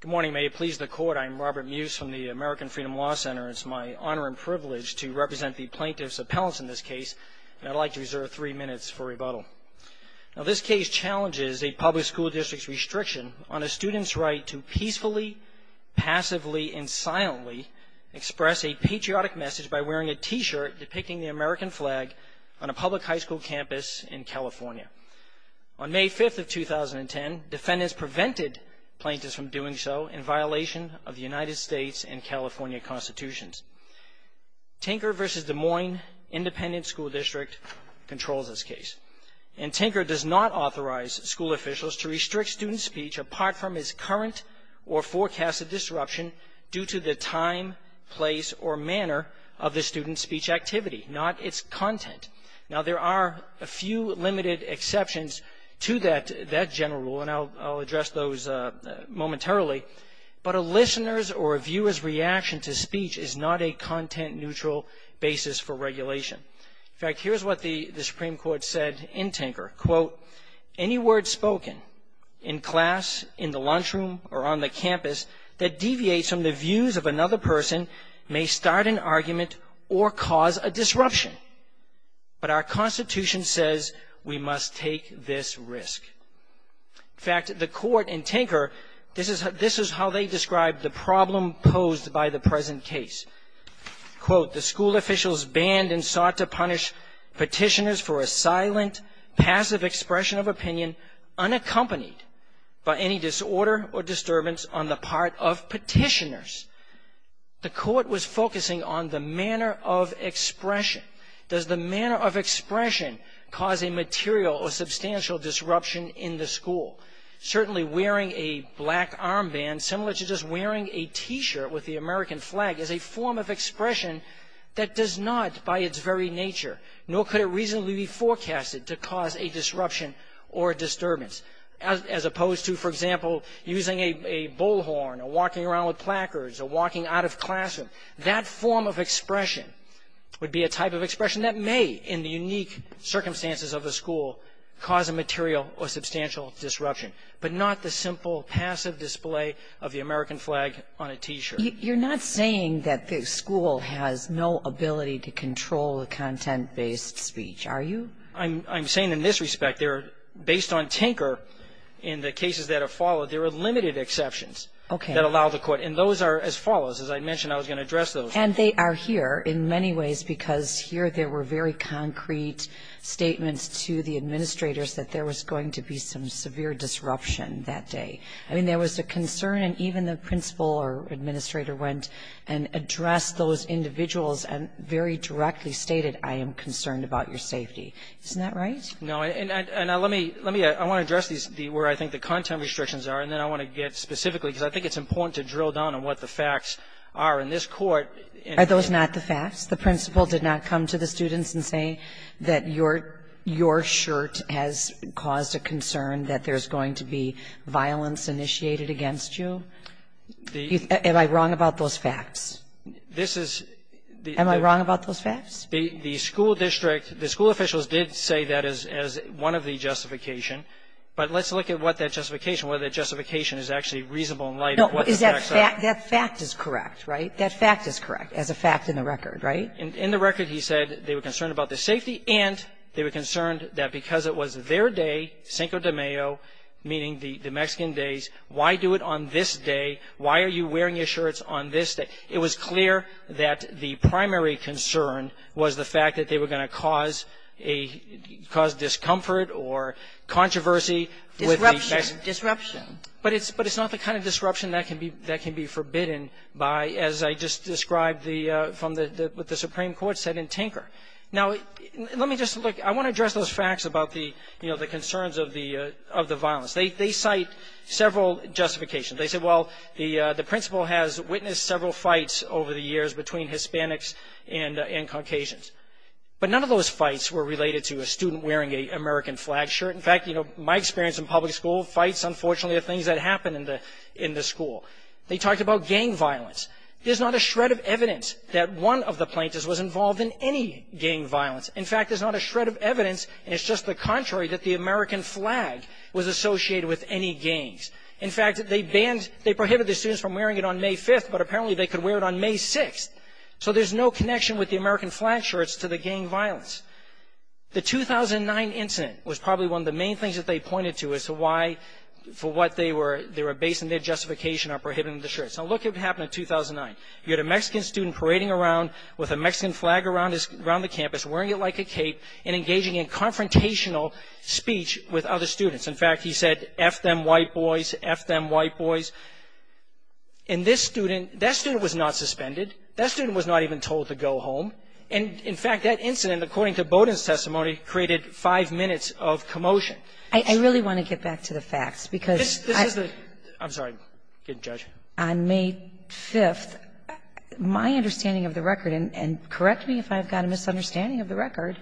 Good morning. May it please the Court, I'm Robert Muse from the American Freedom Law Center. It's my honor and privilege to represent the plaintiff's appellants in this case, and I'd like to reserve three minutes for rebuttal. Now, this case challenges a public school district's restriction on a student's right to peacefully, passively, and silently express a patriotic message by wearing a T-shirt depicting the American flag on a public high school campus in California. On May 5th of 2010, defendants prevented plaintiffs from doing so in violation of the United States and California constitutions. Tinker v. Des Moines Independent School District controls this case, and Tinker does not authorize school officials to restrict student speech apart from its current or forecasted disruption due to the time, place, or manner of the student's speech activity, not its content. Now, there are a few limited exceptions to that general rule, and I'll address those momentarily, but a listener's or a viewer's reaction to speech is not a content-neutral basis for regulation. In fact, here's what the Supreme Court said in Tinker, quote, any word spoken in class, in the lunchroom, or on the campus that deviates from the views of another person may start an argument or cause a disruption, but our Constitution says we must take this risk. In fact, the court in Tinker, this is how they described the problem posed by the present case. Quote, the school officials banned and sought to punish petitioners for a silent, passive expression of opinion unaccompanied by any disorder or disturbance on the part of petitioners. The court was focusing on the manner of expression. Does the manner of expression cause a material or substantial disruption in the school? Certainly wearing a black armband, similar to just wearing a T-shirt with the American flag, is a form of expression that does not, by its very nature, nor could it reasonably be forecasted to cause a disruption or a disturbance, as opposed to, for example, using a bullhorn or walking around with placards or walking out of classroom. That form of expression would be a type of expression that may, in the unique circumstances of the school, cause a material or substantial disruption, but not the simple passive display of the American flag on a T-shirt. You're not saying that the school has no ability to control the content-based speech, are you? I'm saying in this respect, based on Tinker and the cases that have followed, there are limited exceptions that allow the court. And those are as follows. As I mentioned, I was going to address those. And they are here in many ways because here there were very concrete statements to the administrators that there was going to be some severe disruption that day. I mean, there was a concern, and even the principal or administrator went and addressed those individuals and very directly stated, I am concerned about your safety. Isn't that right? No. And let me address these where I think the content restrictions are, and then I want to get specifically, because I think it's important to drill down on what the facts are in this court. Are those not the facts? The principal did not come to the students and say that your shirt has caused a concern that there's going to be violence initiated against you. Am I wrong about those facts? This is the ---- Am I wrong about those facts? The school district, the school officials did say that as one of the justification. But let's look at what that justification, whether that justification is actually reasonable in light of what the facts are. No. That fact is correct, right? That fact is correct as a fact in the record, right? In the record, he said they were concerned about the safety and they were concerned that because it was their day, Cinco de Mayo, meaning the Mexican days, why do it on this day? Why are you wearing your shirts on this day? It was clear that the primary concern was the fact that they were going to cause a ---- cause discomfort or controversy with the Mexican ---- Disruption. Disruption. But it's not the kind of disruption that can be forbidden by, as I just described the ---- from what the Supreme Court said in Tinker. Now, let me just look. I want to address those facts about the, you know, the concerns of the violence. They cite several justifications. They say, well, the principal has witnessed several fights over the years between Hispanics and Caucasians. But none of those fights were related to a student wearing an American flag shirt. In fact, you know, my experience in public school, fights, unfortunately, are things that happen in the school. They talked about gang violence. There's not a shred of evidence that one of the plaintiffs was involved in any gang violence. In fact, there's not a shred of evidence, and it's just the contrary, that the American flag was associated with any gangs. In fact, they banned, they prohibited the students from wearing it on May 5th, but apparently they could wear it on May 6th. So there's no connection with the American flag shirts to the gang violence. The 2009 incident was probably one of the main things that they pointed to as to why, for what they were, they were basing their justification on prohibiting the shirts. Now, look at what happened in 2009. You had a Mexican student parading around with a Mexican flag around the campus, wearing it like a cape, and engaging in confrontational speech with other students. In fact, he said, F them white boys, F them white boys. And this student, that student was not suspended. That student was not even told to go home. And, in fact, that incident, according to Bowdoin's testimony, created five minutes of commotion. I really want to get back to the facts, because I — This is the — I'm sorry. Go ahead, Judge. On May 5th, my understanding of the record, and correct me if I've got a misunderstanding of the record,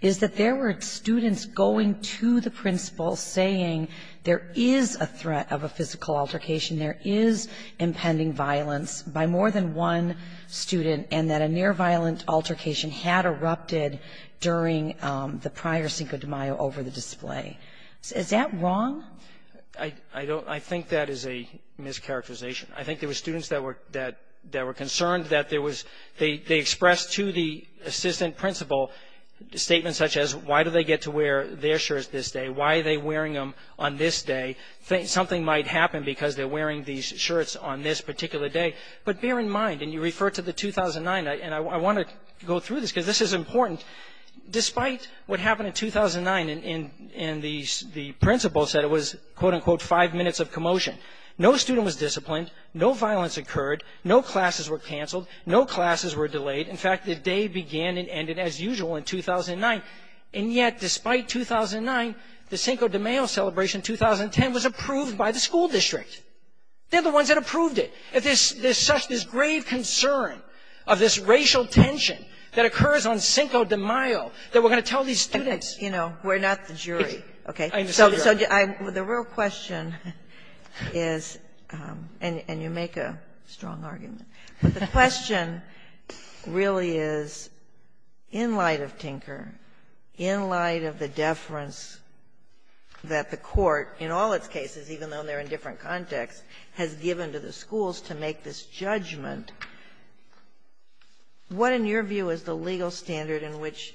is that there were students going to the principal saying there is a threat of a physical altercation, there is impending violence by more than one student, and that a near-violent altercation had erupted during the prior Cinco de Mayo over the display. Is that wrong? I don't — I think that is a mischaracterization. I think there were students that were — that were concerned that there was — they expressed to the assistant principal statements such as, why do they get to wear their shirts this day? Why are they wearing them on this day? Something might happen because they're wearing these shirts on this particular day. But bear in mind, and you refer to the 2009 — and I want to go through this, because this is important. Despite what happened in 2009, and the principal said it was, quote-unquote, five minutes of commotion, no student was disciplined, no violence occurred, no classes were canceled, no classes were delayed. In fact, the day began and ended as usual in 2009. And yet, despite 2009, the Cinco de Mayo celebration in 2010 was approved by the school district. They're the ones that approved it. There's such — there's grave concern of this racial tension that occurs on Cinco de Mayo that we're going to tell these students. You know, we're not the jury, okay? So the real question is — and you make a strong argument. But the question really is, in light of Tinker, in light of the deference that the Court, in all its cases, even though they're in different contexts, has given to the schools to make this judgment, what, in your view, is the legal standard in which,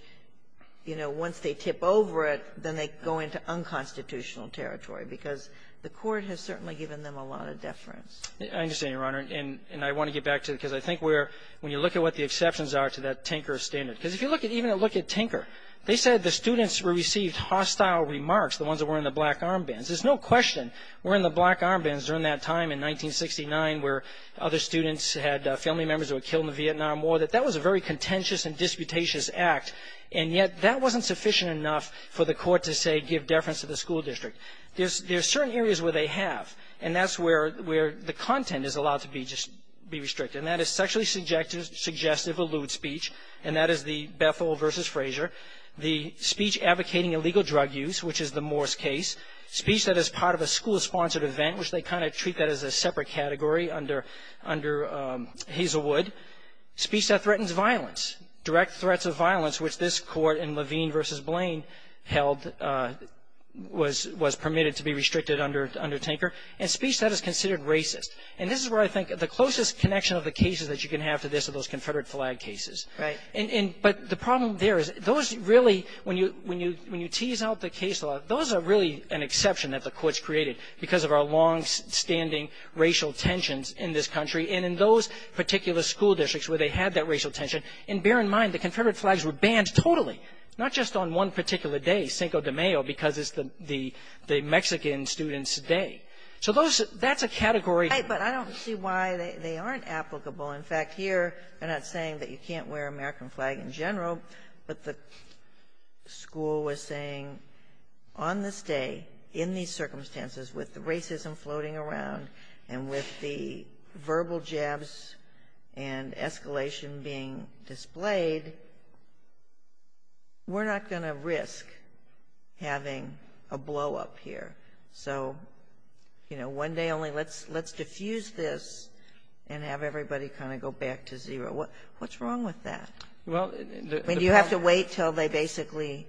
you know, once they tip over it, then they go into unconstitutional territory? Because the Court has certainly given them a lot of deference. I understand, Your Honor. And I want to get back to it, because I think we're — when you look at what the exceptions are to that Tinker standard. Because if you look at — even look at Tinker, they said the students received hostile remarks, the ones that were in the black armbands. There's no question, were in the black armbands during that time in 1969, where other students had family members who were killed in the Vietnam War, that that was a very contentious and disputatious act. And yet, that wasn't sufficient enough for the Court to say, give deference to the school district. There's certain areas where they have. And that's where the content is allowed to be restricted. And that is sexually suggestive or lewd speech. And that is the Bethel v. Frazier. The speech advocating illegal drug use, which is the Morse case. Speech that is part of a school-sponsored event, which they kind of treat that as a separate category under Hazelwood. Speech that threatens violence, direct threats of violence, which this Court in Levine v. Blaine held was permitted to be restricted under Tinker. And speech that is considered racist. And this is where I think the closest connection of the cases that you can have to this are those Confederate flag cases. But the problem there is, those really — when you tease out the case law, those are really an exception that the courts created because of our longstanding racial tensions in this country. And in those particular school districts where they had that racial tension — and bear in mind, the Confederate flags were banned totally, not just on one particular day, Cinco de Mayo, because it's the Mexican students' day. So those — that's a category — Kagan. But I don't see why they aren't applicable. In fact, here, they're not saying that you can't wear American flag in general, but the school was saying, on this day, in these circumstances, with the racism floating around and with the verbal jabs and escalation being displayed, we're not going to risk having a blow-up here. So, you know, one day only, let's diffuse this and have everybody kind of go back to zero. What's wrong with that? I mean, do you have to wait until they basically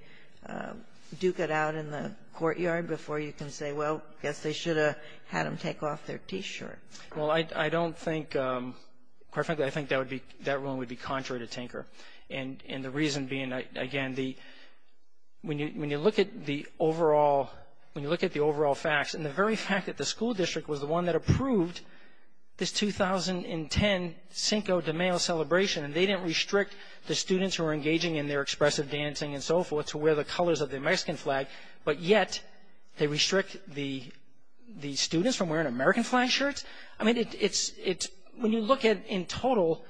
duke it out in the courtyard before you can say, well, I guess they should have had them take off their T-shirt? Well, I don't think — quite frankly, I think that would be — that ruling would be contrary to Tinker. And the reason being, again, the — when you look at the overall — when you look at the overall facts, and the very fact that the school district was the one that approved this 2010 Cinco de Mayo celebration, and they didn't restrict the students who were engaging in their expressive dancing and so forth to wear the colors of the Mexican flag, but yet they restrict the students from wearing American flag shirts? I mean, it's — when you look at, in total,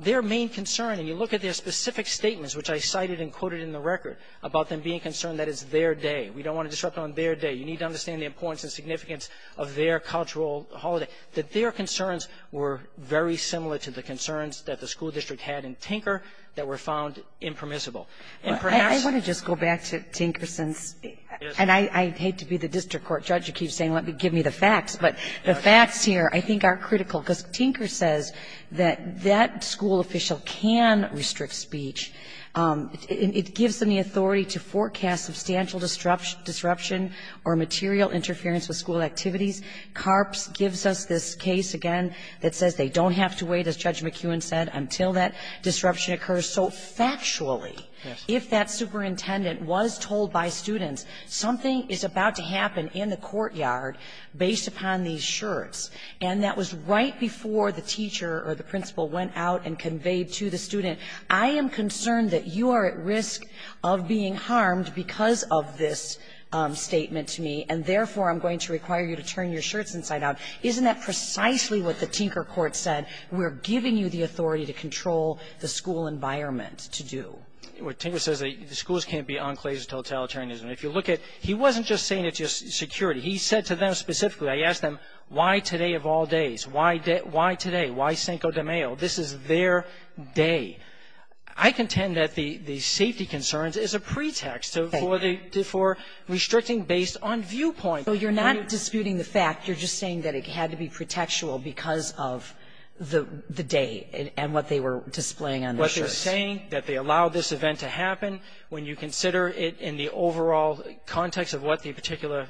their main concern and you look at their specific statements, which I cited and quoted in the record, about them being concerned that it's their day. We don't want to disrupt on their day. You need to understand the importance and significance of their cultural holiday, that their concerns were very similar to the concerns that the school district had in Tinker that were found impermissible. And perhaps — I want to just go back to Tinker since — Yes. And I hate to be the district court judge who keeps saying, let me — give me the facts, but the facts here I think are critical, because Tinker says that that school official can restrict speech. It gives them the authority to forecast substantial disruption or material interference with school activities. CARPS gives us this case, again, that says they don't have to wait, as Judge McEwen said, until that disruption occurs. So factually, if that superintendent was told by students, something is about to happen in the courtyard based upon these shirts, and that was right before the teacher or the principal went out and conveyed to the student, I am concerned that you are at risk of being harmed because of this statement to me, and therefore, I'm going to require you to turn your shirts inside out. Isn't that precisely what the Tinker court said? We're giving you the authority to control the school environment to do. Well, Tinker says that schools can't be enclaves of totalitarianism. If you look at — he wasn't just saying it to security. He said to them specifically — I asked them, why today of all days? Why today? Why Cinco de Mayo? This is their day. I contend that the safety concerns is a pretext for the — for restricting based on viewpoint. So you're not disputing the fact. You're just saying that it had to be pretextual because of the day and what they were displaying on the shirts. What they're saying, that they allowed this event to happen, when you consider it in the overall context of what the particular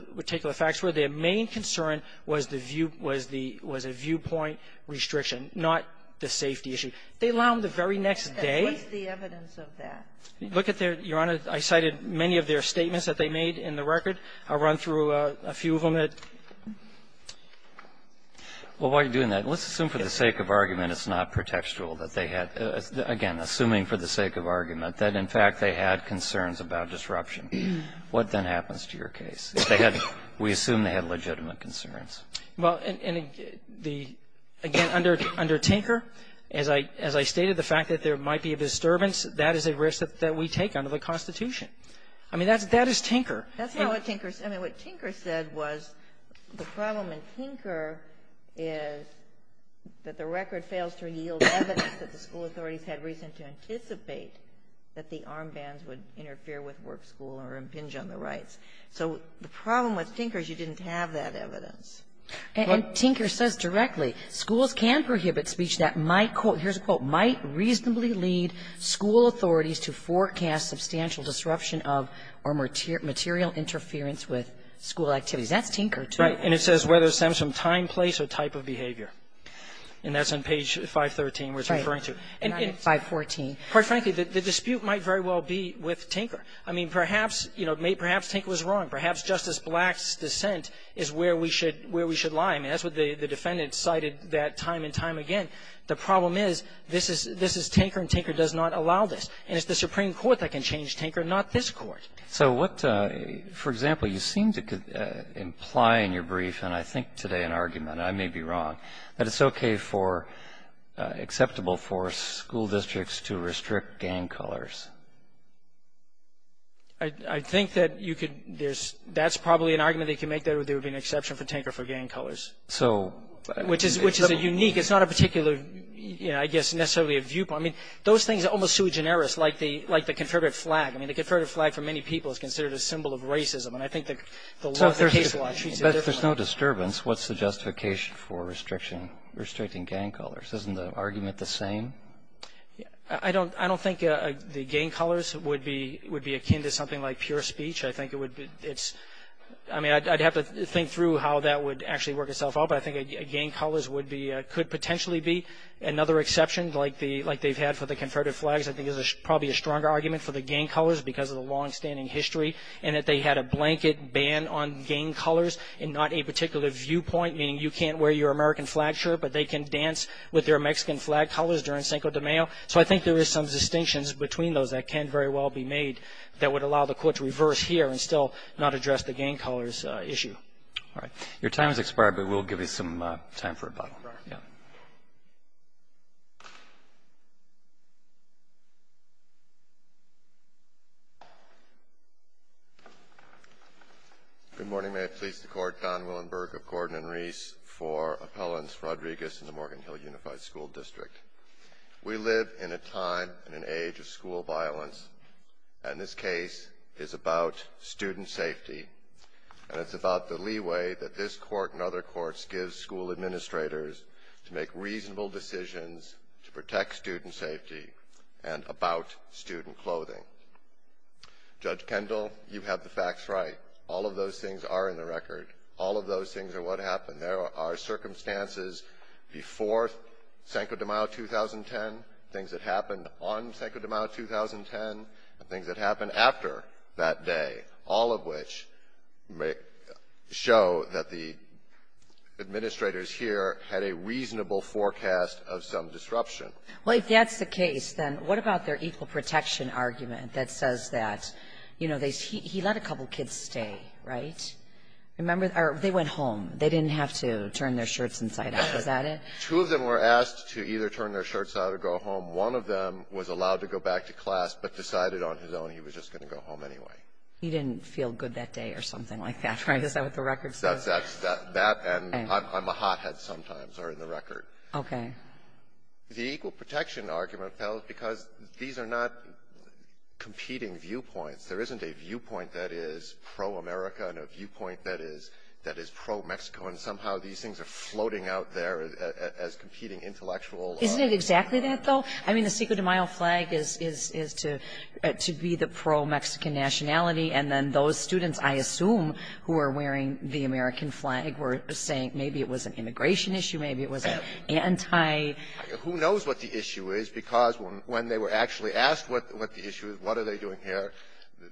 facts were, their main concern was the view — was the — was a viewpoint restriction, not the safety issue. They allow them the very next day. What's the evidence of that? Look at their — Your Honor, I cited many of their statements that they made in the record. I'll run through a few of them. Well, while you're doing that, let's assume for the sake of argument it's not pretextual that they had — again, assuming for the sake of argument that, in fact, they had concerns about disruption. What then happens to your case? If they had — we assume they had legitimate concerns. Well, and the — again, under — under Tinker, as I — as I stated, the fact that there might be a disturbance, that is a risk that we take under the Constitution. I mean, that's — that is Tinker. That's not what Tinker — I mean, what Tinker said was the problem in Tinker is that the record fails to yield evidence that the school authorities had reason to anticipate that the armbands would interfere with work, school, or impinge on the rights. So the problem with Tinker is you didn't have that evidence. And Tinker says directly, schools can prohibit speech that might — here's a quote — might reasonably lead school authorities to forecast substantial disruption of or material interference with school activities. That's Tinker, too. Right. And it says whether it stems from time, place, or type of behavior. And that's on page 513 where it's referring to. Right. And it's — 514. Quite frankly, the dispute might very well be with Tinker. I mean, perhaps, you know, perhaps Tinker was wrong. Perhaps Justice Black's dissent is where we should — where we should lie. I mean, that's what the defendant cited that time and time again. The problem is this is — this is Tinker, and Tinker does not allow this. And it's the Supreme Court that can change Tinker, not this Court. So what — for example, you seem to imply in your brief, and I think today in argument, I may be wrong, that it's okay for — acceptable for school districts to restrict gang colors. I — I think that you could — there's — that's probably an argument they can make there that there would be an exception for Tinker for gang colors. So — Which is — which is a unique — it's not a particular, you know, I guess, necessarily a viewpoint. I mean, those things are almost too generous, like the — like the Confederate flag. I mean, the Confederate flag, for many people, is considered a symbol of racism. And I think that the law — the case law treats it differently. But if there's no disturbance, what's the justification for restriction — restricting gang colors? Isn't the argument the same? I don't — I don't think the gang colors would be — would be akin to something like pure speech. I think it would be — it's — I mean, I'd have to think through how that would actually work itself out. But I think gang colors would be — could potentially be another exception, like the — like they've had for the Confederate flags, I think is probably a stronger argument for the gang colors because of the longstanding history and that they had a blanket ban on gang colors and not a particular viewpoint, meaning you can't wear your American flag shirt, but they can dance with their Mexican flag colors during Cinco de Mayo. So I think there is some distinctions between those that can very well be made that would allow the Court to reverse here and still not address the gang colors issue. All right. Your time has expired, but we'll give you some time for rebuttal. All right. Yeah. Good morning. May it please the Court, Don Willenberg of Gordon and Reese for Appellants Rodriguez in the Morgan Hill Unified School District. We live in a time and an age of school violence, and this case is about student safety, and it's about the leeway that this Court and other courts give school administrators to make reasonable decisions to protect student safety and about student clothing. Judge Kendall, you have the facts right. All of those things are in the record. All of those things are what happened. There are circumstances before Cinco de Mayo 2010, things that happened on Cinco de Mayo 2010, and things that happened after that day, all of which show that the administrators here had a reasonable forecast of some disruption. Well, if that's the case, then what about their equal protection argument that says that, you know, he let a couple kids stay, right? Remember? Or they went home. They didn't have to turn their shirts inside out. Is that it? Two of them were asked to either turn their shirts out or go home. One of them was allowed to go back to class, but decided on his own he was just going to go home anyway. He didn't feel good that day or something like that, right? Is that what the record says? That's that. And I'm a hothead sometimes, or in the record. Okay. The equal protection argument, though, is because these are not competing viewpoints. There isn't a viewpoint that is pro-America and a viewpoint that is pro-Mexico, and somehow these things are floating out there as competing intellectual Isn't it exactly that, though? I mean, the Cinco de Mayo flag is to be the pro-Mexican nationality, and then those students, I assume, who are wearing the American flag were saying Maybe it was an immigration issue. Maybe it was an anti- Who knows what the issue is, because when they were actually asked what the issue is, what are they doing here,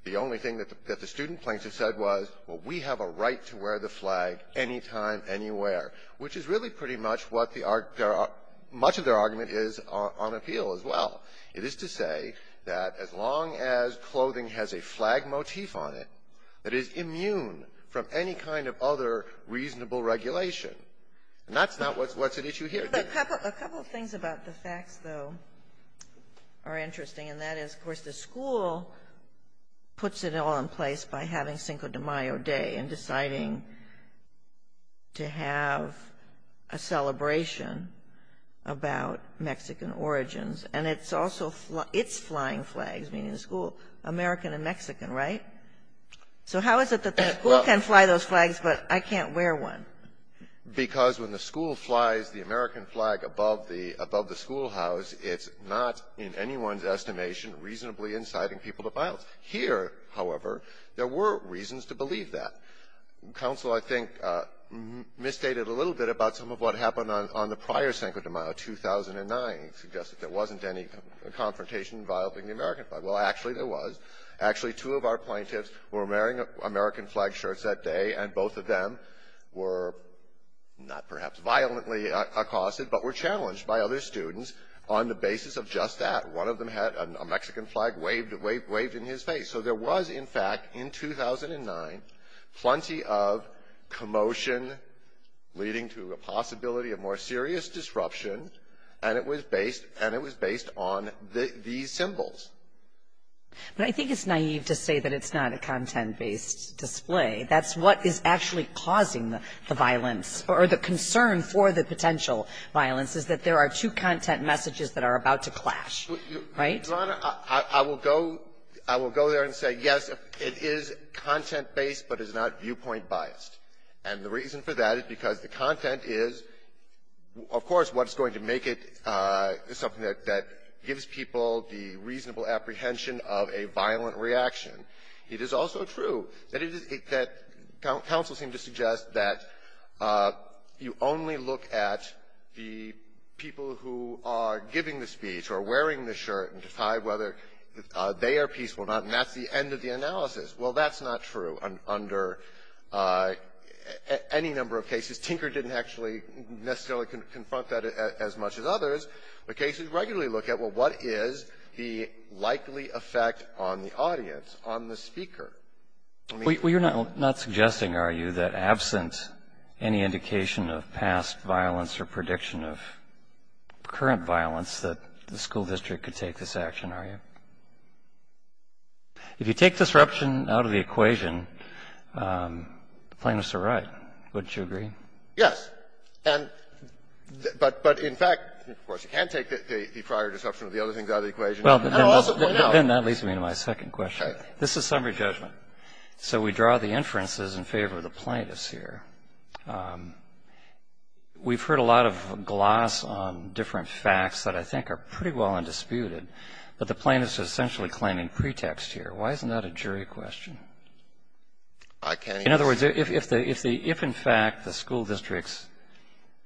the only thing that the student plaintiffs said was, well, we have a right to wear the flag anytime, anywhere, which is really pretty much what the argument is on appeal as well. It is to say that as long as clothing has a flag motif on it that is immune from any kind of other reasonable regulation, and that's not what's an issue here. A couple of things about the facts, though, are interesting, and that is, of course, the school puts it all in place by having Cinco de Mayo Day and deciding to have a celebration about Mexican origins, and it's also its flying flags, meaning the school, American and Mexican, right? So how is it that the school can fly those flags, but I can't wear one? Because when the school flies the American flag above the schoolhouse, it's not, in anyone's estimation, reasonably inciting people to violence. Here, however, there were reasons to believe that. Counsel, I think, misstated a little bit about some of what happened on the prior Cinco de Mayo, 2009, suggested there wasn't any confrontation involving the American flag. Well, actually there was. Actually, two of our plaintiffs were wearing American flag shirts that day, and both of them were not perhaps violently accosted, but were challenged by other students on the basis of just that. One of them had a Mexican flag waved in his face. So there was, in fact, in 2009, plenty of commotion leading to a possibility of more serious disruption, and it was based on these symbols. But I think it's naive to say that it's not a content-based display. That's what is actually causing the violence, or the concern for the potential violence, is that there are two content messages that are about to clash, right? Your Honor, I will go there and say, yes, it is content-based, but it's not viewpoint biased. And the reason for that is because the content is, of course, what's going to make it something that gives people the reasonable apprehension of a violent reaction. It is also true that it is that counsel seemed to suggest that you only look at the people who are giving the speech or wearing the shirt and decide whether they are peaceful or not, and that's the end of the analysis. Well, that's not true under any number of cases. Tinker didn't actually necessarily confront that as much as others. The cases regularly look at, well, what is the likely effect on the audience, on the speaker? I mean you're not suggesting, are you, that absent any indication of past violence or prediction of current violence, that the school district could take this action, are you? If you take disruption out of the equation, plaintiffs are right. Wouldn't you agree? Yes. And but in fact, of course, you can take the prior disruption of the other things out of the equation. Well, but then that leads me to my second question. This is summary judgment. So we draw the inferences in favor of the plaintiffs here. We've heard a lot of gloss on different facts that I think are pretty well undisputed, but the plaintiffs are essentially claiming pretext here. Why isn't that a jury question? I can't answer that. In other words, if in fact the school district's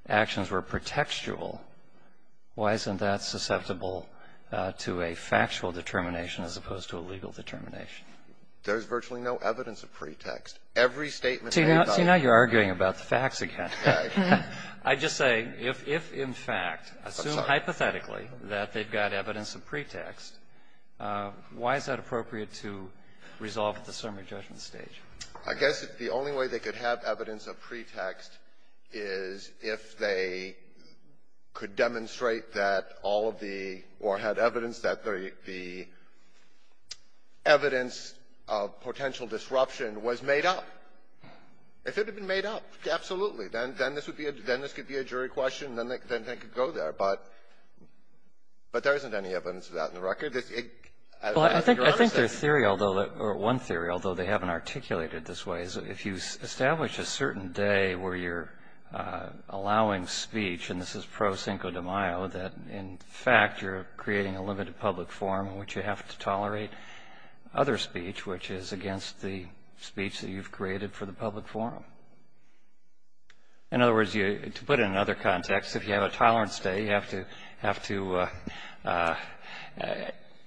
actions were pretextual, why isn't that susceptible to a factual determination as opposed to a legal determination? There's virtually no evidence of pretext. Every statement made by the plaintiffs is a pretext. See, now you're arguing about the facts again. I just say, if in fact, assume hypothetically that they've got evidence of pretext, why is that appropriate to resolve at the summary judgment stage? I guess the only way they could have evidence of pretext is if they could demonstrate that all of the or had evidence that the evidence of potential disruption was made up. If it had been made up, absolutely, then this would be a jury question, then they could go there. But there isn't any evidence of that in the record. I think there's theory, or one theory, although they haven't articulated it this way, is if you establish a certain day where you're allowing speech, and this is pro cinco de mayo, that in fact you're creating a limited public forum in which you have to tolerate other speech, which is against the speech that you've created for the public forum. In other words, to put it in another context, if you have a tolerance day, you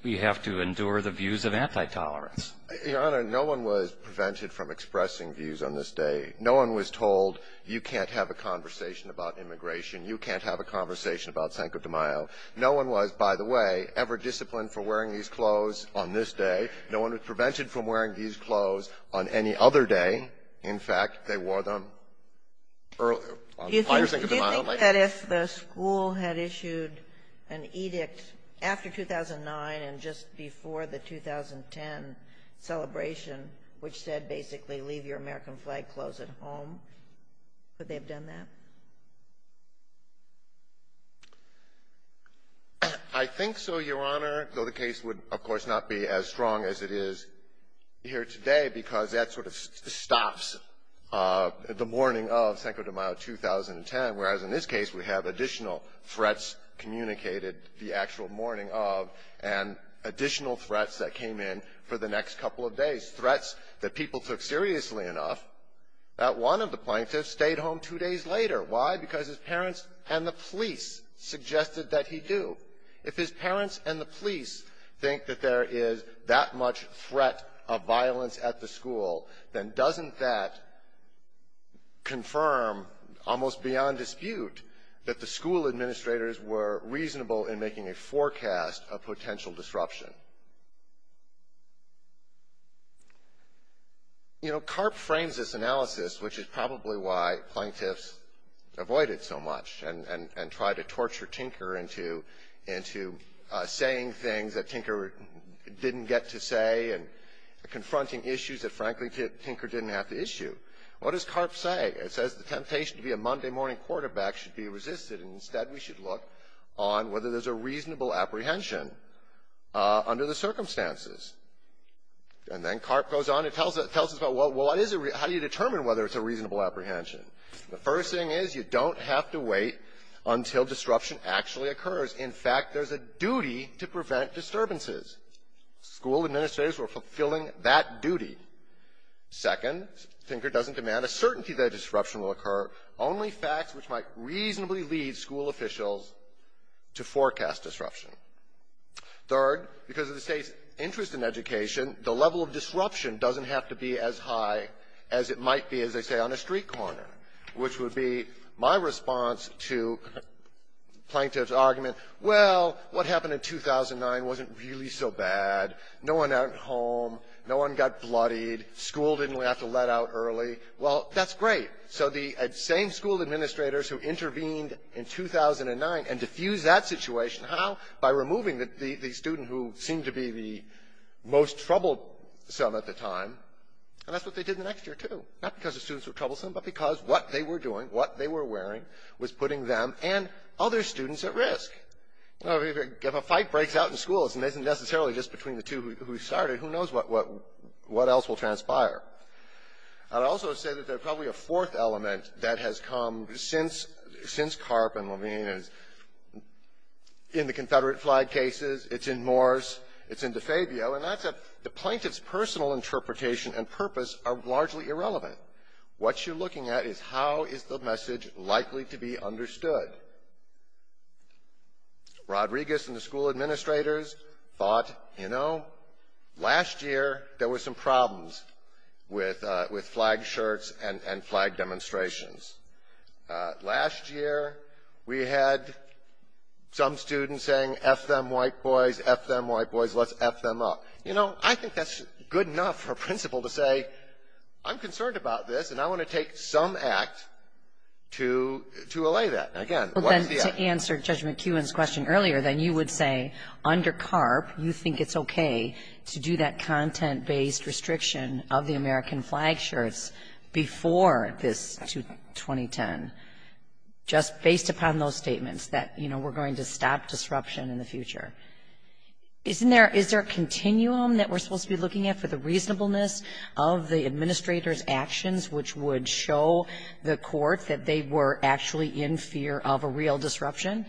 have to endure the views of anti-tolerance. Your Honor, no one was prevented from expressing views on this day. No one was told, you can't have a conversation about immigration. You can't have a conversation about cinco de mayo. No one was, by the way, ever disciplined for wearing these clothes on this day. No one was prevented from wearing these clothes on any other day. In fact, they wore them earlier. Do you think that if the school had issued an edict after 2009 and just before the 2010 celebration, which said basically leave your American flag clothes at home, would they have done that? I think so, Your Honor, though the case would, of course, not be as strong as it is here today because that sort of stops the mourning of cinco de mayo 2010, whereas in this case, we have additional threats communicated, the actual mourning of, and additional threats that came in for the next couple of days, threats that people took seriously enough that one of the plaintiffs stayed home two days later. Why? Because his parents and the police suggested that he do. If his parents and the police think that there is that much threat of violence at the school, then doesn't that confirm, almost beyond dispute, that the school administrators were reasonable in making a forecast of potential disruption? You know, Karp frames this analysis, which is probably why plaintiffs avoided so much and try to torture Tinker into saying things that Tinker didn't get to say and confronting issues that, frankly, Tinker didn't have to issue. What does Karp say? It says the temptation to be a Monday morning quarterback should be resisted, and instead, we should look on whether there's a reasonable apprehension under the circumstances. And then Karp goes on and tells us, well, how do you determine whether it's a reasonable apprehension? The first thing is you don't have to wait until disruption actually occurs. In fact, there's a duty to prevent disturbances. School administrators were fulfilling that duty. Second, Tinker doesn't demand a certainty that disruption will occur, only facts which might reasonably lead school officials to forecast disruption. Third, because of the State's interest in education, the level of disruption doesn't have to be as high as it might be, as they say, on a street corner, which would be my response to plaintiff's argument, well, what happened in 2009 wasn't really so bad. No one went home. No one got bloodied. School didn't have to let out early. Well, that's great. So the same school administrators who intervened in 2009 and diffused that situation, how? By removing the student who seemed to be the most troublesome at the time, and that's what they did the next year, too, not because the students were troublesome, but because what they were doing, what they were wearing was putting them and other students at risk. If a fight breaks out in schools, and it isn't necessarily just between the two who started, who knows what else will transpire. I'd also say that there's probably a fourth element that has come since Karp and Levine. It's in the Confederate flag cases, it's in Morse, it's in DeFabio, and that's the plaintiff's personal interpretation and purpose are largely irrelevant. What you're looking at is how is the message likely to be understood. Rodriguez and the school administrators thought, you know, last year there were some problems with flag shirts and flag demonstrations. Last year we had some students saying, F them, white boys, F them, white boys, let's F them up. You know, I think that's good enough for a principal to say, I'm concerned about this, and I want to take some act to allay that. Again, what's the act? To answer Judge McEwen's question earlier, then you would say, under Karp, you think it's okay to do that content-based restriction of the American flag shirts before this 2010, just based upon those statements that, you know, we're going to stop disruption in the future. Isn't there, is there a continuum that we're supposed to be looking at for the reasonableness of the administrator's actions, which would show the court that they were actually in fear of a real disruption?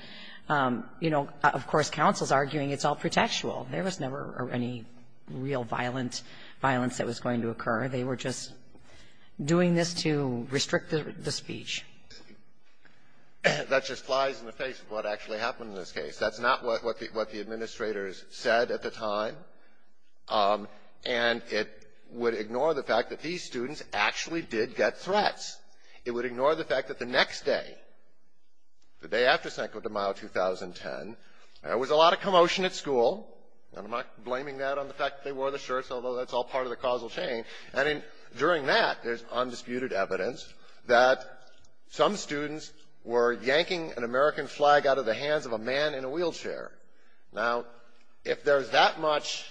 You know, of course, counsel's arguing it's all pretextual. There was never any real violence that was going to occur. They were just doing this to restrict the speech. That just flies in the face of what actually happened in this case. That's not what the administrators said at the time, and it would ignore the fact that these students actually did get threats. It would ignore the fact that the next day, the day after Sancto Domingo 2010, there was a lot of commotion at school. And I'm not blaming that on the fact that they wore the shirts, although that's all part of the causal chain. And during that, there's undisputed evidence that some students were yanking an American flag out of the hands of a man in a wheelchair. Now, if there's that much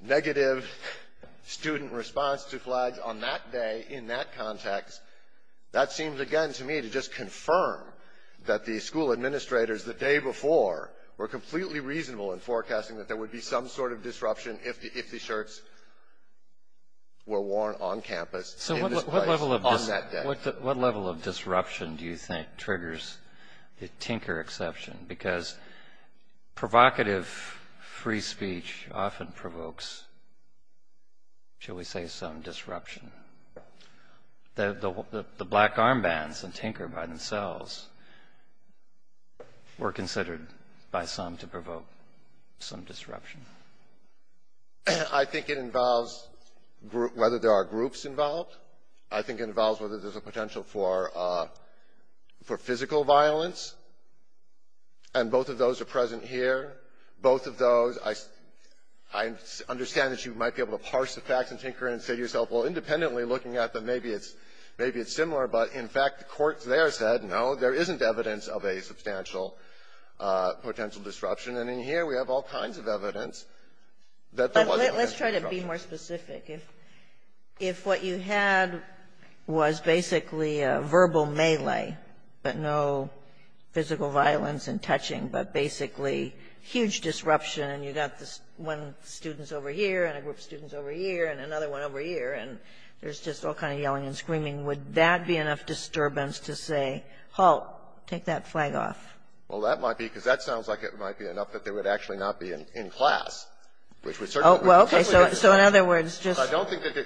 negative student response to flags on that day in that context, that seems, again, to me, to just confirm that the school administrators the day before were completely reasonable in forecasting that there would be some sort of disruption if the shirts were worn on campus in this place on that day. What level of disruption do you think triggers the tinker exception? Because provocative free speech often provokes, shall we say, some disruption. The black armbands and tinker by themselves were considered by some to provoke some disruption. I think it involves whether there are groups involved. I think it involves whether there's a potential for physical violence. And both of those are present here. Both of those, I understand that you might be able to parse the facts and tinker and say to yourself, well, independently looking at them, maybe it's similar, but in fact, the courts there said, no, there isn't evidence of a substantial potential disruption. And in here, we have all kinds of evidence that there was a potential disruption. Thank you. If what you had was basically a verbal melee, but no physical violence and touching, but basically huge disruption and you got this one student over here and a group of students over here and another one over here, and there's just all kind of yelling and screaming, would that be enough disturbance to say, halt, take that flag off? Well, that might be because that sounds like it might be enough that they would actually not be in class, which we certainly would. Well, okay, so in other words, just — I don't think that you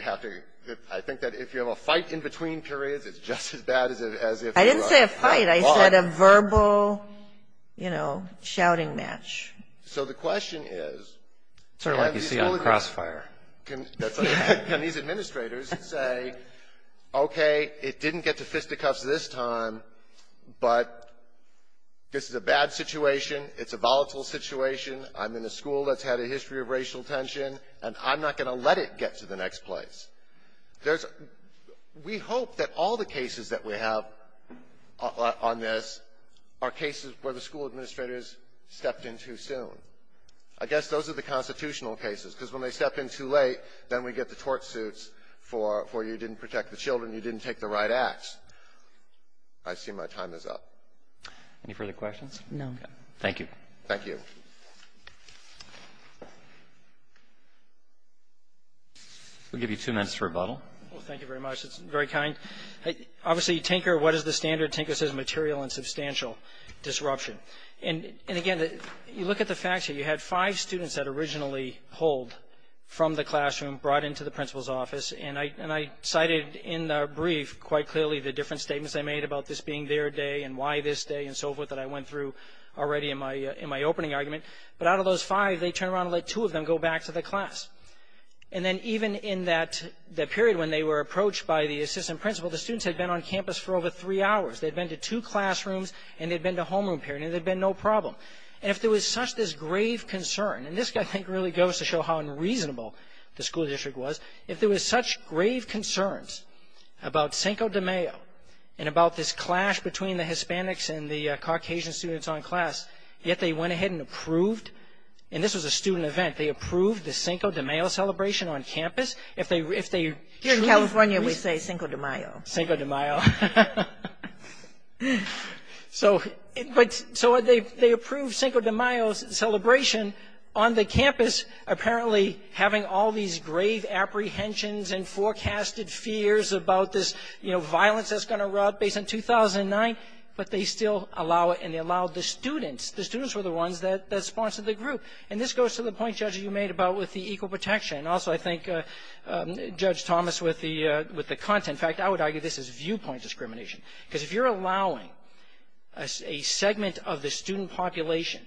have to — I think that if you have a fight in between periods, it's just as bad as if you are — I didn't say a fight. I said a verbal, you know, shouting match. So the question is — Sort of like you see on Crossfire. Can these administrators say, okay, it didn't get to fisticuffs this time, but this is a bad situation. It's a volatile situation. I'm in a school that's had a history of racial tension, and I'm not going to let it get to the next place. There's — we hope that all the cases that we have on this are cases where the school administrators stepped in too soon. I guess those are the constitutional cases, because when they step in too late, then we get the tort suits for you didn't protect the children, you didn't take the right acts. I see my time is up. Any further questions? No. Thank you. Thank you. We'll give you two minutes to rebuttal. Well, thank you very much. It's very kind. Obviously, Tinker — what is the standard? Tinker says material and substantial disruption. And again, you look at the facts here. You had five students that originally pulled from the classroom, brought into the principal's office. And I cited in the brief quite clearly the different statements I made about this being their day and why this day and so forth that I went through already in my opening argument. But out of those five, they turned around and let two of them go back to the class. And then even in that period when they were approached by the assistant principal, the students had been on campus for over three hours. They'd been to two classrooms, and they'd been to homeroom period, and they'd been no problem. And if there was such this grave concern — and this, I think, really goes to show how unreasonable the school district was — if there was such grave concerns about Cinco de Mayo and about this clash between the Hispanics and the Caucasian students on class, yet they went ahead and approved — and this was a student event — they approved the Cinco de Mayo celebration on campus. If they truly — Here in California, we say Cinco de Mayo. Cinco de Mayo. So they approved Cinco de Mayo's celebration on the campus, apparently having all these grave apprehensions and forecasted fears about this, you know, violence that's going to erupt based on 2009, but they still allow it, and they allowed the students — the students were the ones that sponsored the group. And this goes to the point, Judge, that you made about with the equal protection. And also, I think, Judge Thomas, with the content — in fact, I would argue this is viewpoint discrimination. Because if you're allowing a segment of the student population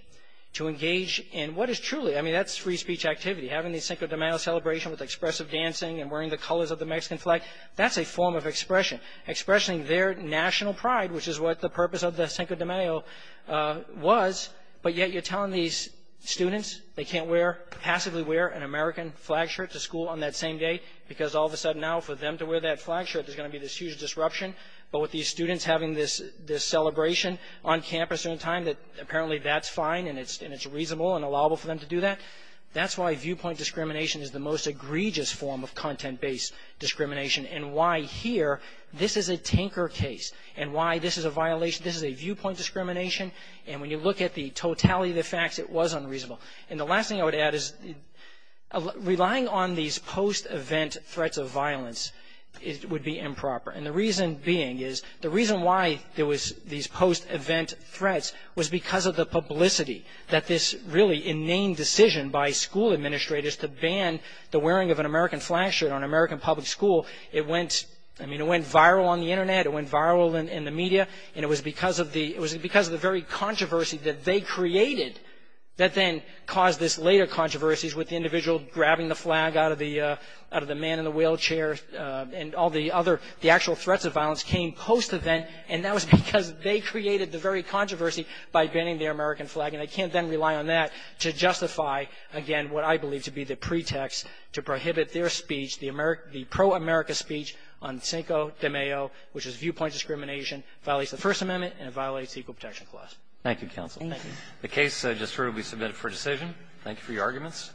to engage in what is truly — I mean, that's free speech activity, having the Cinco de Mayo celebration with expressive dancing and wearing the colors of the Mexican flag. That's a form of expression, expressing their national pride, which is what the purpose of the Cinco de Mayo was. But yet, you're telling these students they can't wear — passively wear an American flag shirt to school on that same day, because all of a sudden now, for them to wear that flag shirt, there's going to be this huge disruption. But with these students having this celebration on campus at a time that apparently that's fine and it's reasonable and allowable for them to do that, that's why viewpoint discrimination is the most egregious form of content-based discrimination, and why here, this is a tinker case, and why this is a violation — this is a viewpoint discrimination. And when you look at the totality of the facts, it was unreasonable. And the last thing I would add is relying on these post-event threats of violence would be improper. And the reason being is — the reason why there was these post-event threats was because of the publicity, that this really inane decision by school administrators to ban the wearing of an American flag shirt on an American public school, it went — I mean, it went viral on the Internet, it went viral in the media, and it was because of the — it was because of the very controversy that they created that then caused this later controversy with the individual grabbing the flag out of the man in the wheelchair and all the other — the actual threats of violence came post-event, and that was because they created the very controversy by banning the American flag. And I can't then rely on that to justify, again, what I believe to be the pretext to prohibit their speech, the pro-America speech on Cinco de Mayo, which is viewpoint discrimination. It violates the First Amendment, and it violates the Equal Protection Clause. Roberts. Thank you, counsel. The case just heard will be submitted for decision. Thank you for your arguments.